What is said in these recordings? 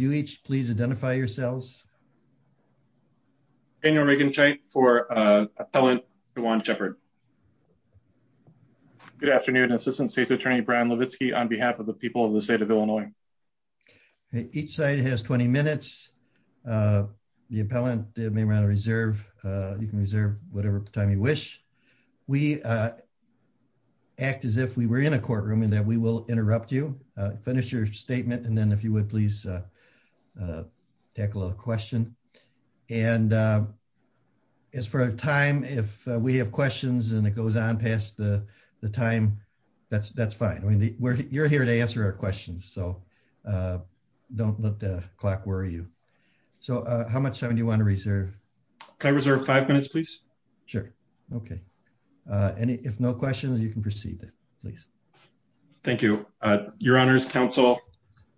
You each please identify yourselves. Daniel Regenscheidt for Appellant Juan Shepherd. Good afternoon, Assistant State's Attorney Brian Levitsky on behalf of the people of the state of Illinois. Each side has 20 minutes. The appellant may want to reserve. You can reserve whatever time you wish. We act as if we were in a courtroom and that we will interrupt you. Finish your statement and then if you would please tackle a question. And as for a time if we have questions and it goes on past the time, that's fine. I mean, you're here to answer our questions. So don't let the clock worry you. So how much time do you want to reserve? Can I reserve five minutes, please? Sure. Okay. And if no questions, you can proceed, please. Thank you. Your Honor's counsel,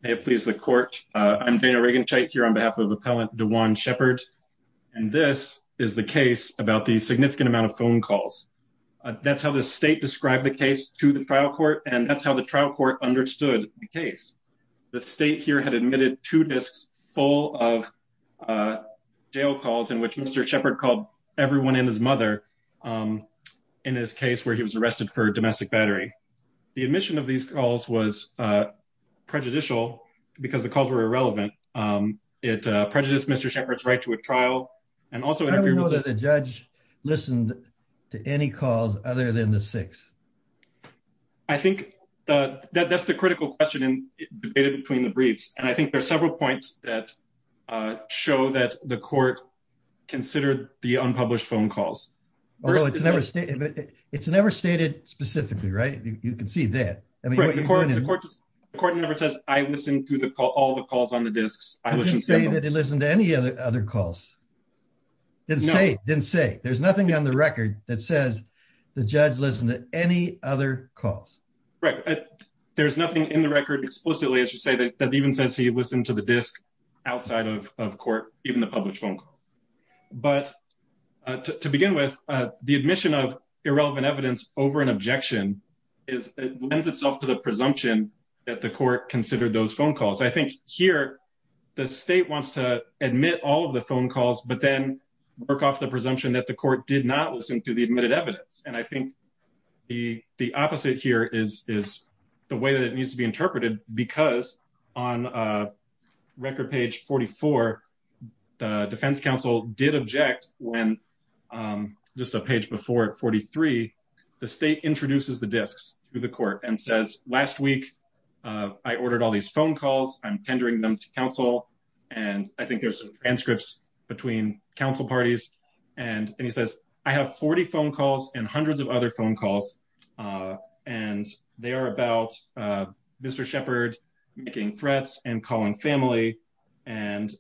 may it please the court. I'm Daniel Regenscheidt here on behalf of Appellant DeJuan Shepherd. And this is the case about the significant amount of phone calls. That's how the state described the case to the trial court. And that's how the trial court understood the case. The state here had admitted two disks full of jail calls in which Mr. Shepherd called everyone in his mother in his case where he was arrested for domestic battery. The admission of these calls was prejudicial because the calls were irrelevant. It prejudiced Mr. Shepherd's right to a trial. And also, I don't know that the judge listened to any calls other than the six. I think that's the critical question in the data between the briefs. And I think there are several points that show that the court considered the unpublished phone calls. Although it's never stated, it's never stated specifically, right? You can see that. The court never says, I listened to all the calls on the disks. I listened to all the calls. Didn't say. There's nothing on the record that says the judge listened to any other calls. There's nothing in the record explicitly, as you say, that even says he listened to the disk outside of court, even the published phone calls. But to begin with, the admission of irrelevant evidence over an objection lends itself to the presumption that the court considered those phone calls. I think here, the state wants to admit all of the phone calls, but then work off the presumption that the court did not listen to the admitted evidence. And I think the opposite here is the way that it needs to be interpreted because on record page 44, the defense counsel did object when just a page before at 43, the state introduces the disks through the court and says, last week, I ordered all these phone calls. I'm tendering them to counsel. And I think there's some transcripts between council parties. And he says, I have 40 phone calls and hundreds of other phone calls. And they are about Mr. Shepherd making threats and calling family. And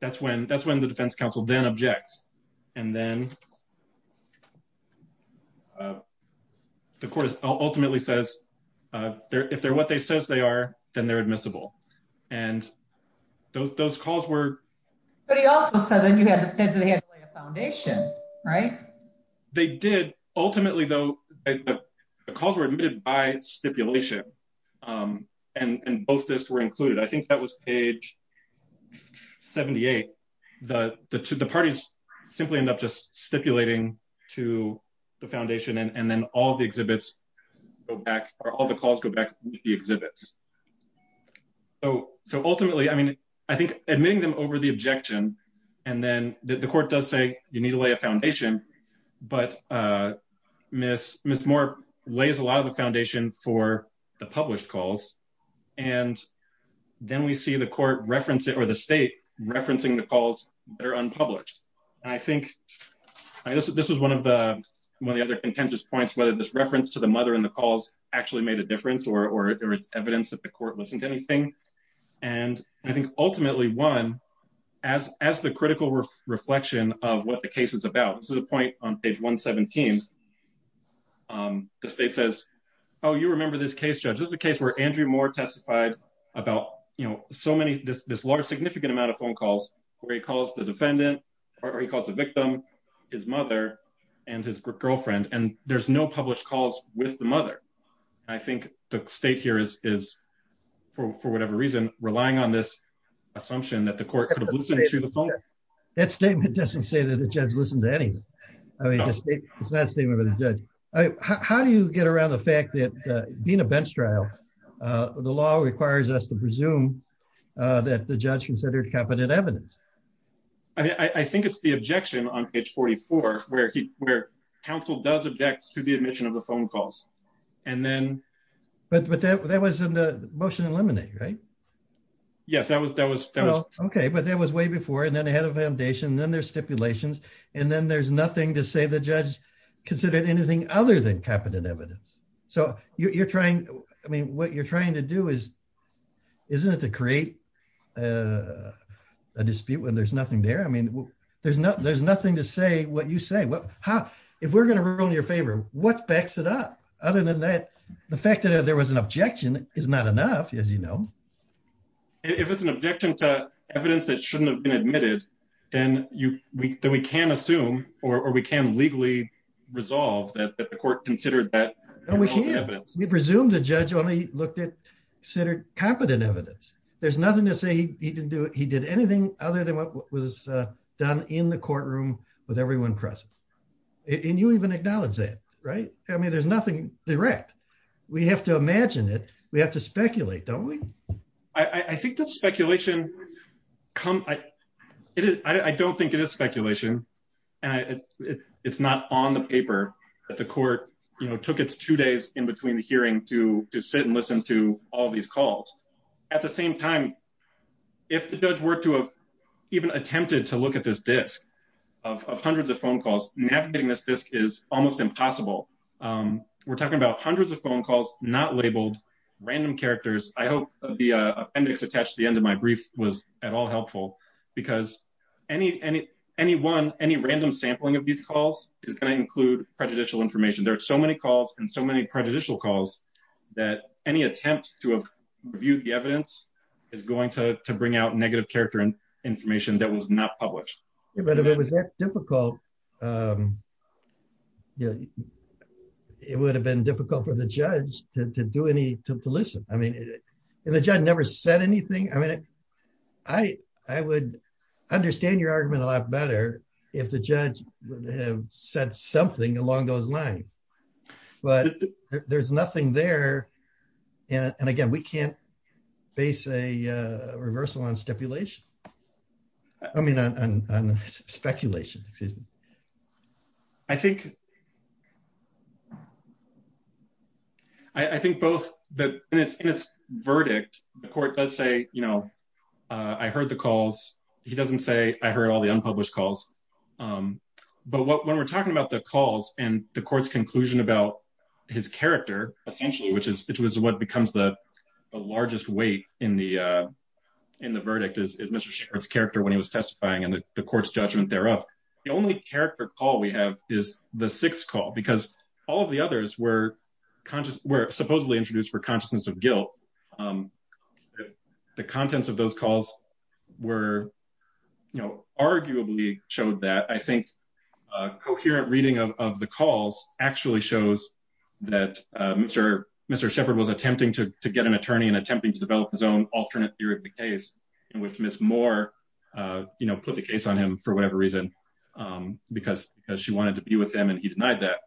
that's when the defense counsel then objects. And then the court ultimately says if they're what they says they are, then they're admissible. And those calls were... But he also said that they had to lay a foundation, right? They did. Ultimately though, the calls were admitted by stipulation and both disks were included. I think that was page 78. The parties simply end up just stipulating to the foundation and then all the exhibits go back or all the calls go back to the exhibits. So ultimately, I mean, I think admitting them over the objection and then the court does say you need to lay a foundation, but Ms. Moore lays a lot of the foundation for the published calls. And then we see the court reference it or the state referencing the calls that are unpublished. And I think this was one of the other contentious points whether this reference to the mother and the calls actually made a difference or there is evidence that the court listened to anything. And I think ultimately one, as the critical reflection of what the case is about. This is a point on page 117. The state says, oh, you remember this case, Judge. This is the case where Andrew Moore testified about, you know, so many this large significant amount of phone calls where he calls the defendant or he calls the victim, his mother and his girlfriend and there's no published calls with the mother. I think the state here is for whatever reason relying on this assumption that the court could have listened to the phone. That statement doesn't say that the judge listened to anything. I mean, it's not a statement by the judge. How do you get around the fact that being a bench trial, the law requires us to presume that the judge considered competent evidence? I mean, I think it's the objection on page 44 where counsel does object to the admission of the phone calls and then... But that was in the motion eliminate, right? Yes, that was... Okay, but that was way before and then they had a foundation and then there's stipulations and then there's nothing to say the judge considered anything other than competent evidence. So you're trying, I mean, what you're trying to do is isn't it to create a dispute when there's nothing there? I mean, there's nothing to say what you say. Well, if we're going to ruin your favor, what backs it up? Other than that, the fact that there was an objection is not enough as you know. If it's an objection to evidence that shouldn't have been admitted, then we can assume or we can legally resolve that the court considered that evidence. We presume the judge only looked at considered competent evidence. There's nothing to say he didn't do it. He did anything other than what was done in the courtroom with everyone present. And you even acknowledge that, right? I mean, there's nothing direct. We have to imagine it. We have to speculate, don't we? I think that speculation come... I don't think it is speculation and it's not on the paper that the court, you know, took its two days in between the hearing to sit and listen to all these calls. At the same time, if the judge were to have even attempted to look at this disc of hundreds of phone calls, navigating this disc is almost impossible. We're talking about hundreds of phone calls, not labeled, random characters. I hope the appendix attached to the end of my brief was at all helpful because any one, any random sampling of these calls is going to include prejudicial information. There are so many calls and so many prejudicial calls that any attempt to have reviewed the evidence is going to bring out negative character and information that was not published. But if it was that difficult, it would have been difficult for the judge to do any, to listen. I mean, the judge never said anything. I mean, I would understand your argument a lot better if the judge would have said something along those lines. But there's nothing there. And again, we can't base a reversal on stipulation. I mean on speculation, excuse me. I think I think both, in its verdict, the court does say, you know, I heard the calls. He doesn't say I heard all the unpublished calls. But when we're talking about the calls and the court's conclusion about his character, essentially, which is what becomes the largest weight in the in the verdict is Mr. Sherrod's character when he was testifying and the court's judgment thereof. The only character call we have is the sixth call because all of the others were conscious, were supposedly introduced for consciousness of guilt. The contents of those calls were, you know, arguably showed that I think coherent reading of the calls actually shows that Mr. Mr. Shepard was attempting to get an attorney and attempting to develop his own alternate theory of the case in which Ms. Moore, you know, put the case on him for whatever reason because she wanted to be with him and he denied that.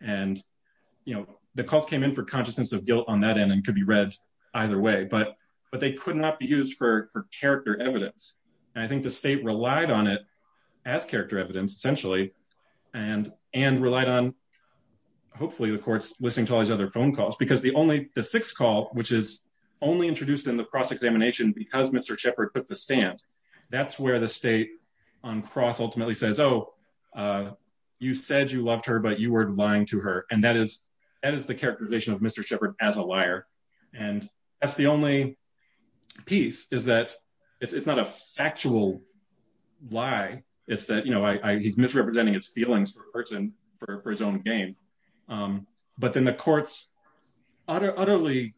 And, you know, the calls came in for consciousness of guilt on that end and could be read either way. But they could not be used for character evidence. And I think the state relied on it as character evidence, essentially, and relied on hopefully the courts listening to all these other phone calls because the only, the sixth call, which is only introduced in the cross-examination because Mr. Shepard put the stand, that's where the state on cross ultimately says, oh, you said you loved her but you were lying to her and that is, that is the characterization of Mr. Shepard as a liar. And that's the only piece is that it's not a factual lie. It's that, you know, he's misrepresenting his feelings for a person, for his own gain. But then the courts utterly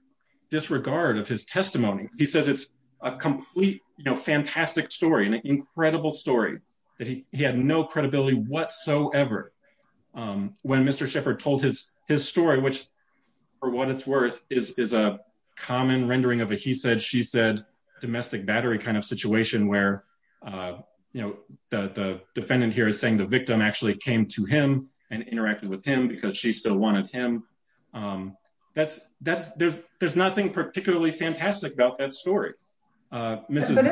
disregard of his testimony. He says it's a complete, you know, fantastic story, an incredible story, that he had no credibility whatsoever when Mr. Shepard told his story, which for what it's worth is a common rendering of a he said, she said, domestic battery kind of situation where you know, the defendant here is saying the victim actually came to him and interacted with him because she still wanted him. That's, that's, there's, there's nothing particularly fantastic about that story. Mrs. Isn't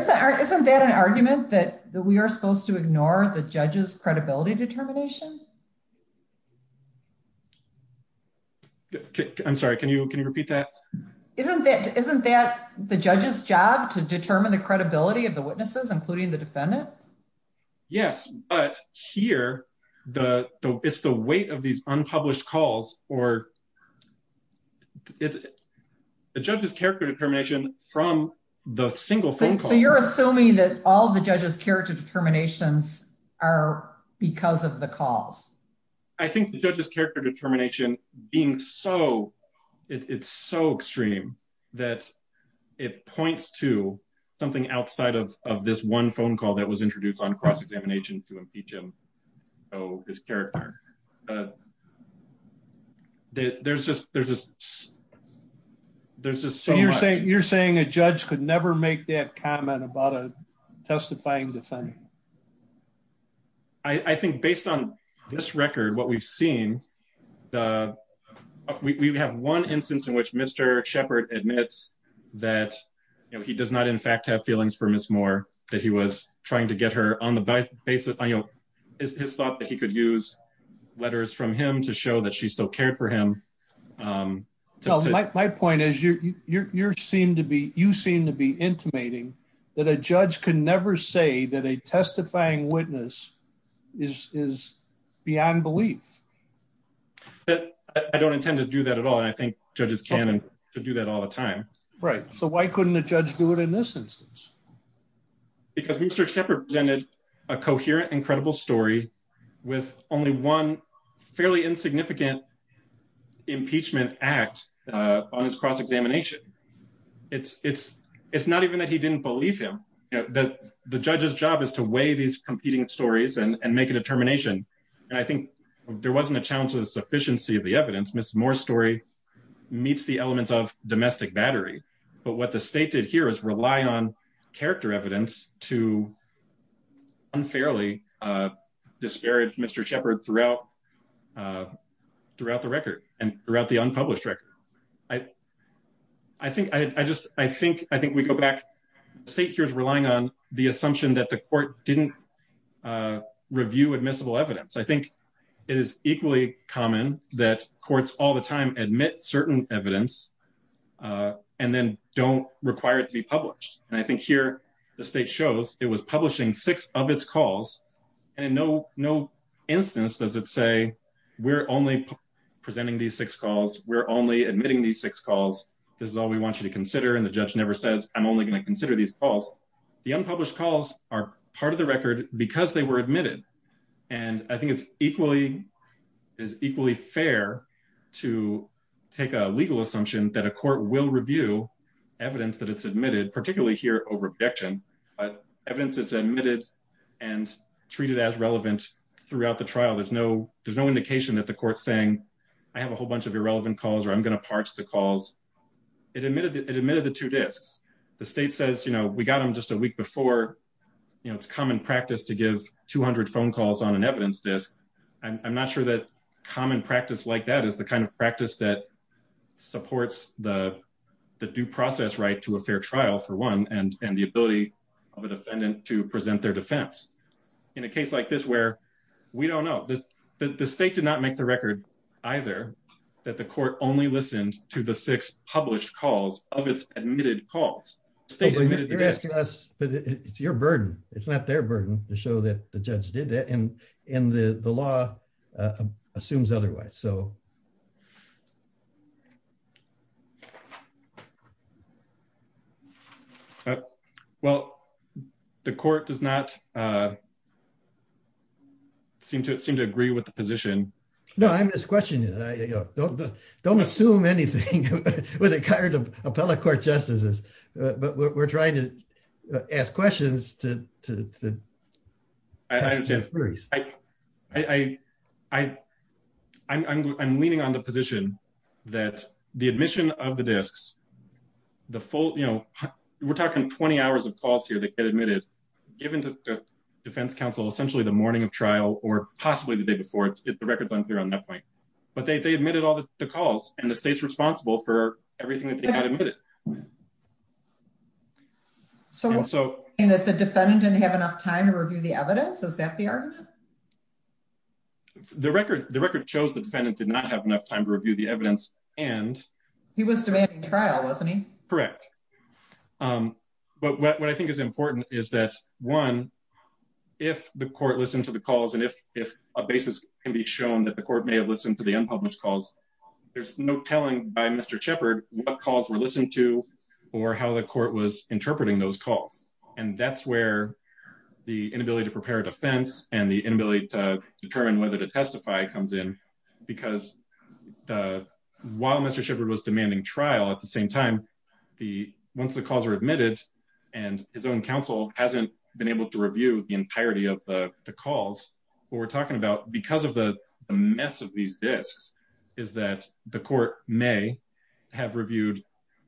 that an argument that we are supposed to ignore the judge's credibility determination? I'm sorry. Can you, can you repeat that? Isn't that, isn't that the judge's job to determine the including the defendant? Yes, but here the, it's the weight of these unpublished calls or the judge's character determination from the single phone call. So you're assuming that all the judge's character determinations are because of the calls. I think the judge's character determination being so, it's so extreme that it points to something outside of, of this one phone call that was introduced on cross-examination to impeach him. Oh, his character. There's just, there's just, there's just so much. You're saying a judge could never make that comment about a testifying defendant? I think based on this record, what we've seen, we have one instance in which Mr. Shepard admits that he does not, in fact, have feelings for Ms. Moore, that he was trying to get her on the basis, his thought that he could use letters from him to show that she still cared for him. My point is, you seem to be, you seem to be intimating that a judge could never say that a testifying witness is beyond belief. I don't intend to do that at all. But I think judges can and could do that all the time. Right. So why couldn't a judge do it in this instance? Because Mr. Shepard presented a coherent and credible story with only one fairly insignificant impeachment act on his cross-examination. It's, it's, it's not even that he didn't believe him. The judge's job is to weigh these competing stories and make a determination. And I think there wasn't a challenge to the sufficiency of the evidence. Ms. Moore's story meets the elements of domestic battery. But what the state did here is rely on character evidence to unfairly disparage Mr. Shepard throughout, throughout the record and throughout the unpublished record. I, I think, I just, I think, I think we go back, the state here is relying on the assumption that the court didn't review admissible evidence. I think it is equally common that courts all the time admit certain evidence and then don't require it to be published. And I think here, the state shows it was publishing six of its calls and in no, no instance does it say we're only presenting these six calls. We're only admitting these six calls. This is all we want you to consider and the judge never says, I'm only going to consider these calls. The unpublished calls are part of the record because they were admitted. And I think it's equally, is equally fair to take a legal assumption that a court will review evidence that it's admitted, particularly here over objection, but evidence is admitted and treated as relevant throughout the trial. There's no, there's no indication that the court's saying I have a whole bunch of irrelevant calls or I'm going to parch the calls. It admitted, it admitted the two disks. The state says, you know, we got them just a week before, you know, it's common practice to give 200 phone calls on an evidence disk. I'm not sure that common practice like that is the kind of practice that supports the due process right to a fair trial for one and the ability of a defendant to present their defense in a case like this where we don't know. The state did not make the record either that the court only listened to the six published calls of its admitted calls. State admitted the disk. But it's your burden. It's not their burden to show that the judge did it and and the law assumes otherwise, so. Well, the court does not seem to seem to agree with the position. No, I'm just questioning. Don't assume anything with regard to appellate court justices. But we're trying to ask questions to the juries. I'm leaning on the position that the admission of the disks, the full, you know, we're talking 20 hours of calls here that get admitted given to defense counsel, essentially the morning of trial or possibly the day before. It's the record length here on that point. But they admitted all the calls and the state's responsible for everything that they had admitted. So also in that the defendant didn't have enough time to review the evidence. Is that the argument? The record the record shows the defendant did not have enough time to review the evidence and he was demanding trial, wasn't he? Correct. But what I think is important is that one, if the court listened to the calls and if if a basis can be shown that the court may have listened to the unpublished calls, there's no telling by Mr. Shepard what calls were listened to or how the court was interpreting those calls. And that's where the inability to prepare a defense and the inability to determine whether to testify comes in because while Mr. Shepard was demanding trial at the same time, the once the calls are admitted and his own counsel hasn't been able to review the entirety of the calls, what we're talking about because of the mess of these disks is that the court may have reviewed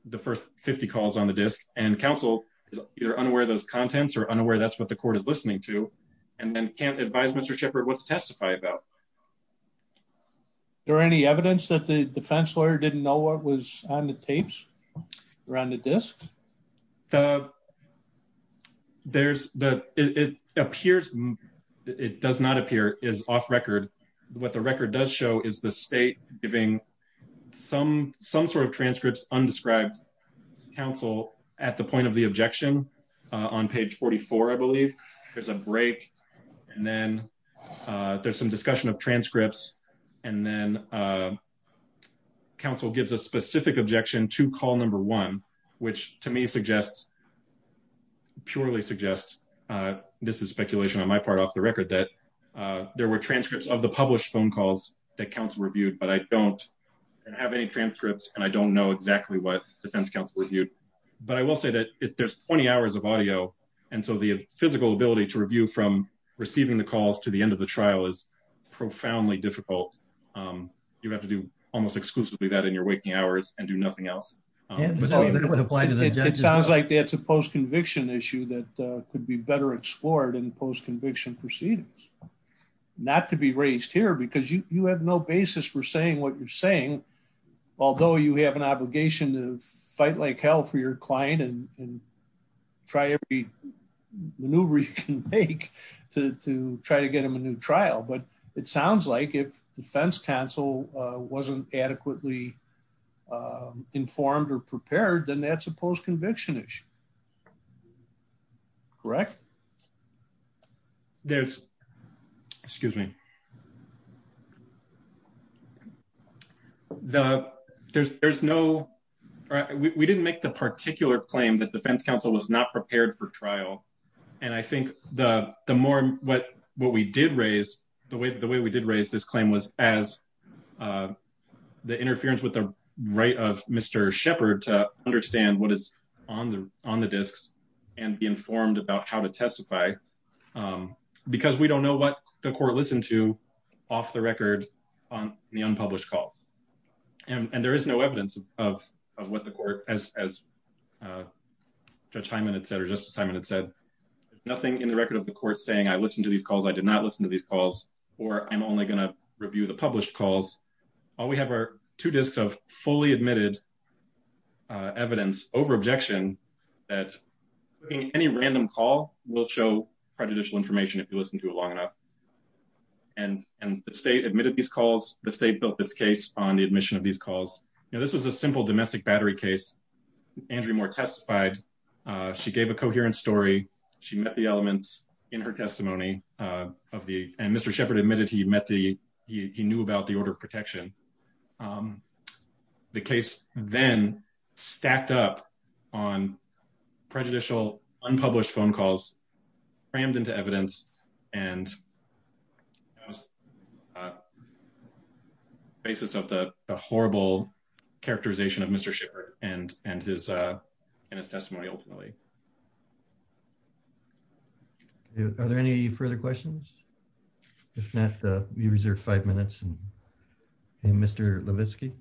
the first 50 calls on the disk and counsel is either unaware of those contents or unaware. That's what the court is listening to and then can't advise Mr. Shepard what to testify about. There any evidence that the defense lawyer didn't know what was on the tapes around the disks? There's the it appears it does not appear is off record. What the record does show is the state giving some sort of transcripts undescribed counsel at the point of the objection on page 44. I believe there's a break and then there's some discussion of transcripts and then counsel gives a specific objection to call number one, which to me suggests purely suggests this is speculation on my part off the record that there were transcripts of the published phone calls that I don't have any transcripts and I don't know exactly what defense counsel reviewed, but I will say that if there's 20 hours of audio and so the physical ability to review from receiving the calls to the end of the trial is profoundly difficult. You have to do almost exclusively that in your waking hours and do nothing else. It sounds like that's a post conviction issue that could be better explored in post conviction proceedings. Not to be raised here because you have no basis for saying what you're saying. Although you have an obligation to fight like hell for your client and try every maneuver you can make to try to get him a new trial, but it sounds like if defense counsel wasn't adequately informed or prepared then that's a post conviction issue. Correct? There's excuse me. The there's there's no we didn't make the particular claim that defense counsel was not prepared for trial. And I think the the more what what we did raise the way that the way we did raise this claim was as the interference with the right of Mr. Shepard to understand what is on the on the disks and be informed about how to testify because we don't know what the court listened to off the record on the unpublished calls. And there is no evidence of what the court as Judge Hyman had said or Justice Hyman had said nothing in the record of the court saying I listened to these calls. I did not listen to these calls or I'm only going to review the published calls. All we have are two disks of fully admitted evidence over objection that any random call will show prejudicial information if you listen to a long enough and and the state admitted these calls the state built this case on the admission of these calls. Now, this was a simple domestic battery case Andrew Moore testified. She gave a coherent story. She met the elements in her testimony of the and Mr. Shepard admitted. He met the he knew about the order of protection. The case then stacked up on prejudicial unpublished phone calls rammed into evidence and basis of the horrible characterization of Mr. Shepard and and his and his testimony ultimately. Are there any further questions? If not, we reserve five minutes and Mr. Levitsky.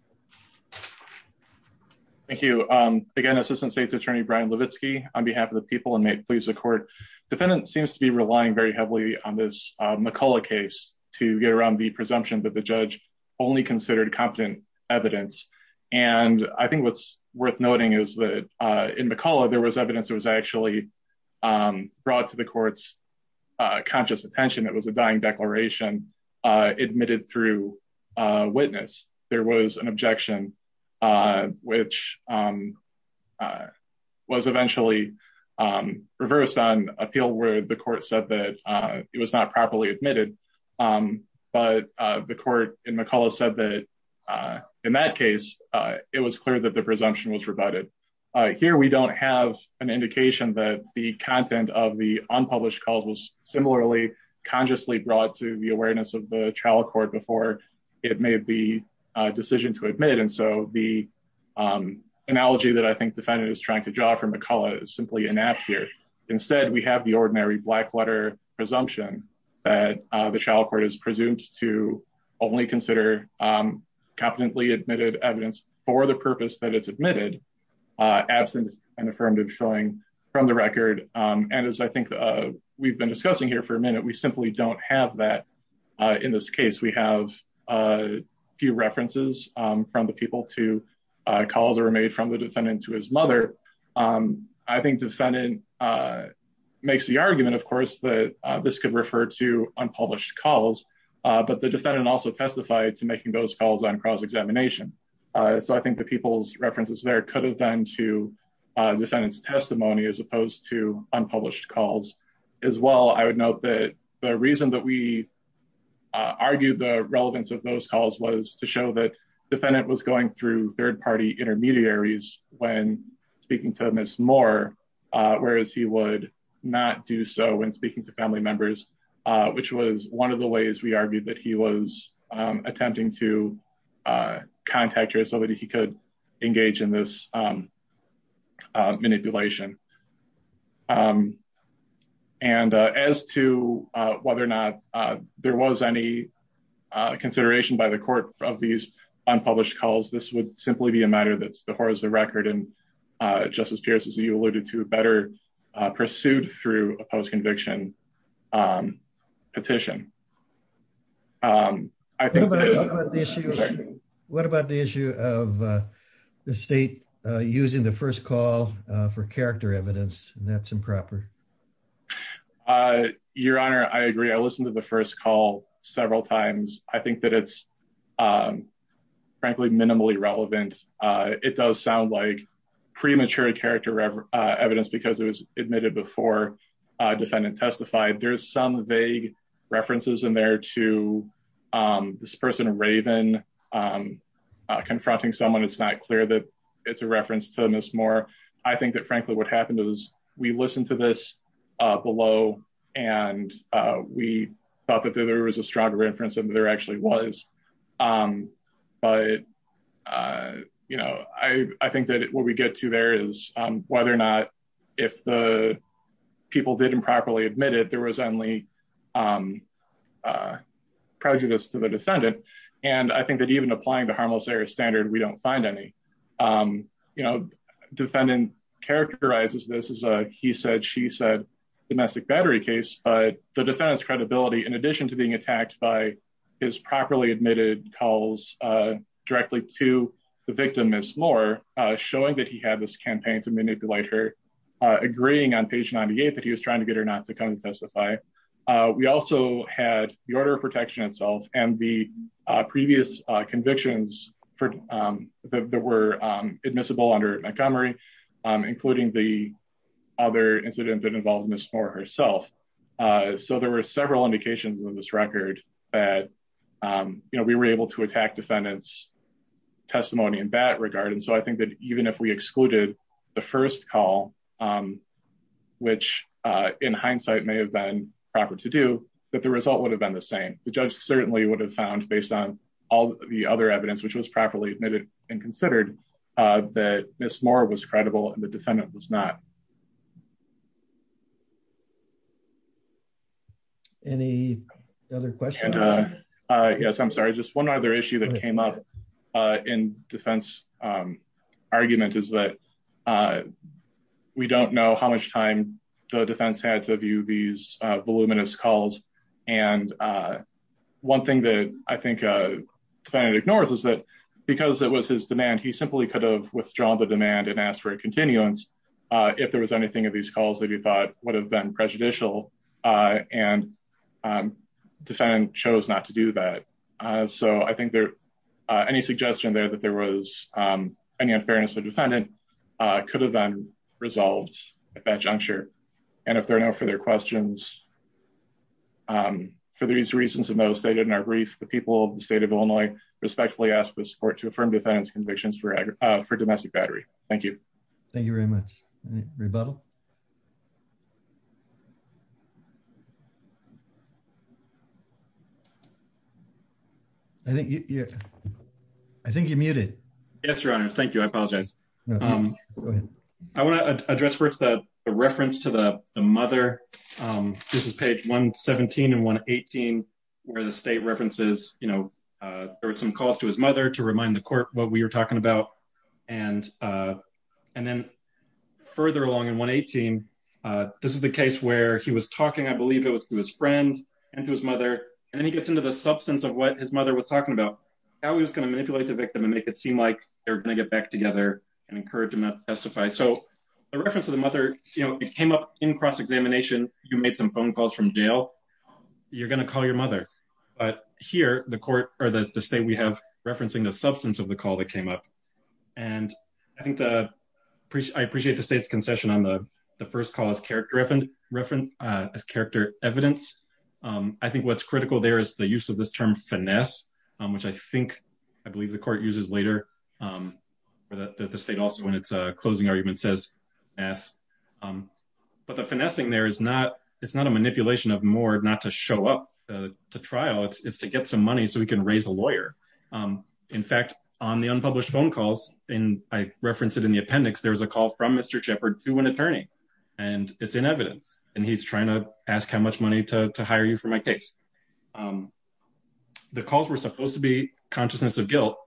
Thank you. Again, Assistant State's Attorney Brian Levitsky on behalf of the people and may it please the court defendant seems to be relying very heavily on this McCulloch case to get around the presumption that the judge only considered competent evidence and I think what's worth noting is that in McCulloch, there was evidence. It was actually brought to the courts conscious attention. It was a dying declaration admitted through witness. There was an objection which was eventually reversed on appeal where the court said that it was not properly admitted. But the court in McCulloch said that in that case, it was clear that the presumption was rebutted. Here. We don't have an indication that the content of the unpublished calls was similarly consciously brought to the awareness of the trial court before it made the decision to admit. And so the analogy that I think defendant is trying to draw from McCulloch is simply an app here. Instead. We have the ordinary black letter presumption that the trial court is presumed to only consider competently admitted evidence for the purpose that it's admitted absent and affirmative showing from the record. And as I think we've been discussing here for a minute. We simply don't have that in this case. We have few references from the people to calls are made from the defendant to his mother. I think defendant makes the argument, of course, that this could refer to unpublished calls, but the defendant also testified to making those calls on cross-examination. So I think the people's references there could have been to defendant's testimony as opposed to unpublished calls as well. I would note that the reason that we argue the relevance of those calls was to show that defendant was going through third-party intermediaries when speaking to Ms. Moore, whereas he would not do so when speaking to family members, which was one of the ways we argued that he was attempting to contact her so that he could engage in this manipulation. And as to whether or not there was any consideration by the court of these unpublished calls, this would simply be a matter that's the horror of the record and Justice Pierce, as you alluded to, better pursued through a post-conviction petition. What about the issue of the state using the first call for character evidence and that's improper? Your Honor, I agree. I listened to the first call several times. I think that it's frankly minimally relevant. It does sound like premature character evidence because it was admitted before defendant testified. There's some vague references in there to this person, Raven, confronting someone. It's not clear that it's a reference to Ms. Moore. I think that frankly what happened is we listened to this below and we thought that there was a stronger reference than there actually was. But I think that what we get to there is whether or not if the people didn't properly admit it, there was only prejudice to the defendant. And I think that even applying the harmless error standard, we don't find any. Defendant characterizes this as a he-said-she-said domestic battery case, but the defendant's credibility in addition to being attacked by his properly admitted calls directly to the victim, Ms. Moore, showing that he had this campaign to manipulate her, agreeing on page 98 that he was trying to get her not to come and testify. We also had the order of protection itself and the previous convictions that were admissible under Montgomery, including the other incident that involved Ms. Moore herself. So there were several indications in this record that we were able to attack defendant's testimony in that regard. And so I think that even if we excluded the first call, which in hindsight may have been proper to do, that the result would have been the same. The judge certainly would have found based on all the other evidence, which was properly admitted and considered that Ms. Moore was credible and the defendant was not. Any other questions? Yes, I'm sorry. Just one other issue that came up in defense argument is that we don't know how much time the defense had to view these voluminous calls. And one thing that I think defendant ignores is that because it was his demand, he simply could have withdrawn the demand and asked for a continuance if there was anything of these calls that he thought would have been prejudicial and defendant chose not to do that. So I think there any suggestion there that there was any unfairness of defendant could have been resolved at that juncture. And if there are no further questions for these reasons, and those stated in our brief, the people of the state of Illinois respectfully ask for support to affirm defendant's convictions for domestic battery. Thank you. Thank you very much. Rebuttal? I think you're I think you're muted. Yes, your honor. Thank you. I apologize. I want to address first the reference to the mother. This is page 117 and 118 where the state references, you know, there were some calls to his mother to remind the court what we were talking about. And and then This is the case where he was talking. I believe it was through his friend. I don't know. Through his friend and to his mother and then he gets into the substance of what his mother was talking about how he was going to manipulate the victim and make it seem like they're going to get back together and encourage him not to testify. So the reference of the mother, you know, it came up in cross-examination. You made some phone calls from jail. You're going to call your mother, but here the court or the state we have referencing the substance of the call that came up and I think the I appreciate the state's concession on the first call as character reference as character evidence. I think what's critical. There is the use of this term finesse, which I think I believe the court uses later for the state also when it's a closing argument says yes, but the finessing there is not it's not a manipulation of more not to show up to trial. It's to get some money so we can raise a lawyer. In fact on the unpublished phone calls in I reference it in the appendix. There was a call from Mr. Shepherd to an attorney and it's in evidence and he's trying to ask how much money to hire you for my case. The calls were supposed to be consciousness of guilt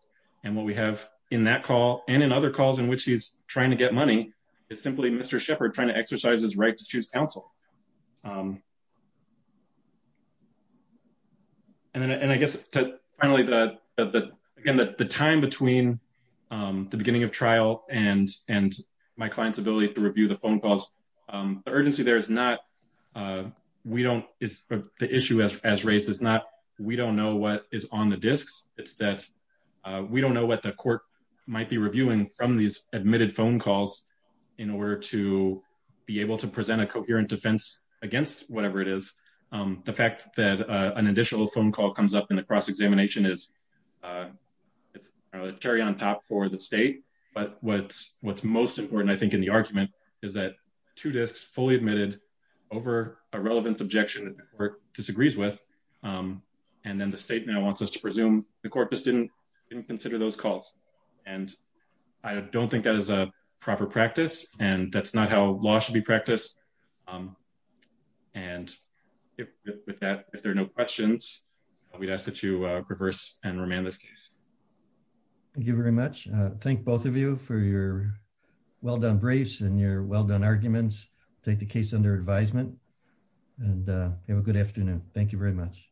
and what we have in that call and in other calls in which he's trying to get money. It's simply Mr. Shepherd trying to exercise his right to choose counsel. And then and I guess finally the again that the time between the beginning of trial and and my clients ability to review the phone calls urgency. There is not we don't is the issue as raised is not we don't know what is on the discs. It's that we don't know what the court might be reviewing from these admitted phone calls in order to be able to present a coherent defense against whatever it is. The fact that an additional phone call comes up in the cross-examination is Terry on top for the state, but what's what's most important I think in the argument is that two discs fully admitted over a relevant objection or disagrees with and then the state now wants us to presume the corpus didn't didn't consider those calls and I don't think that is a proper practice and that's not how law should be practiced. And with that if there are no questions, we'd ask that you reverse and remand this case. Thank you very much. Thank both of you for your well-done briefs and your well-done arguments take the case under advisement and have a good afternoon. Thank you very much.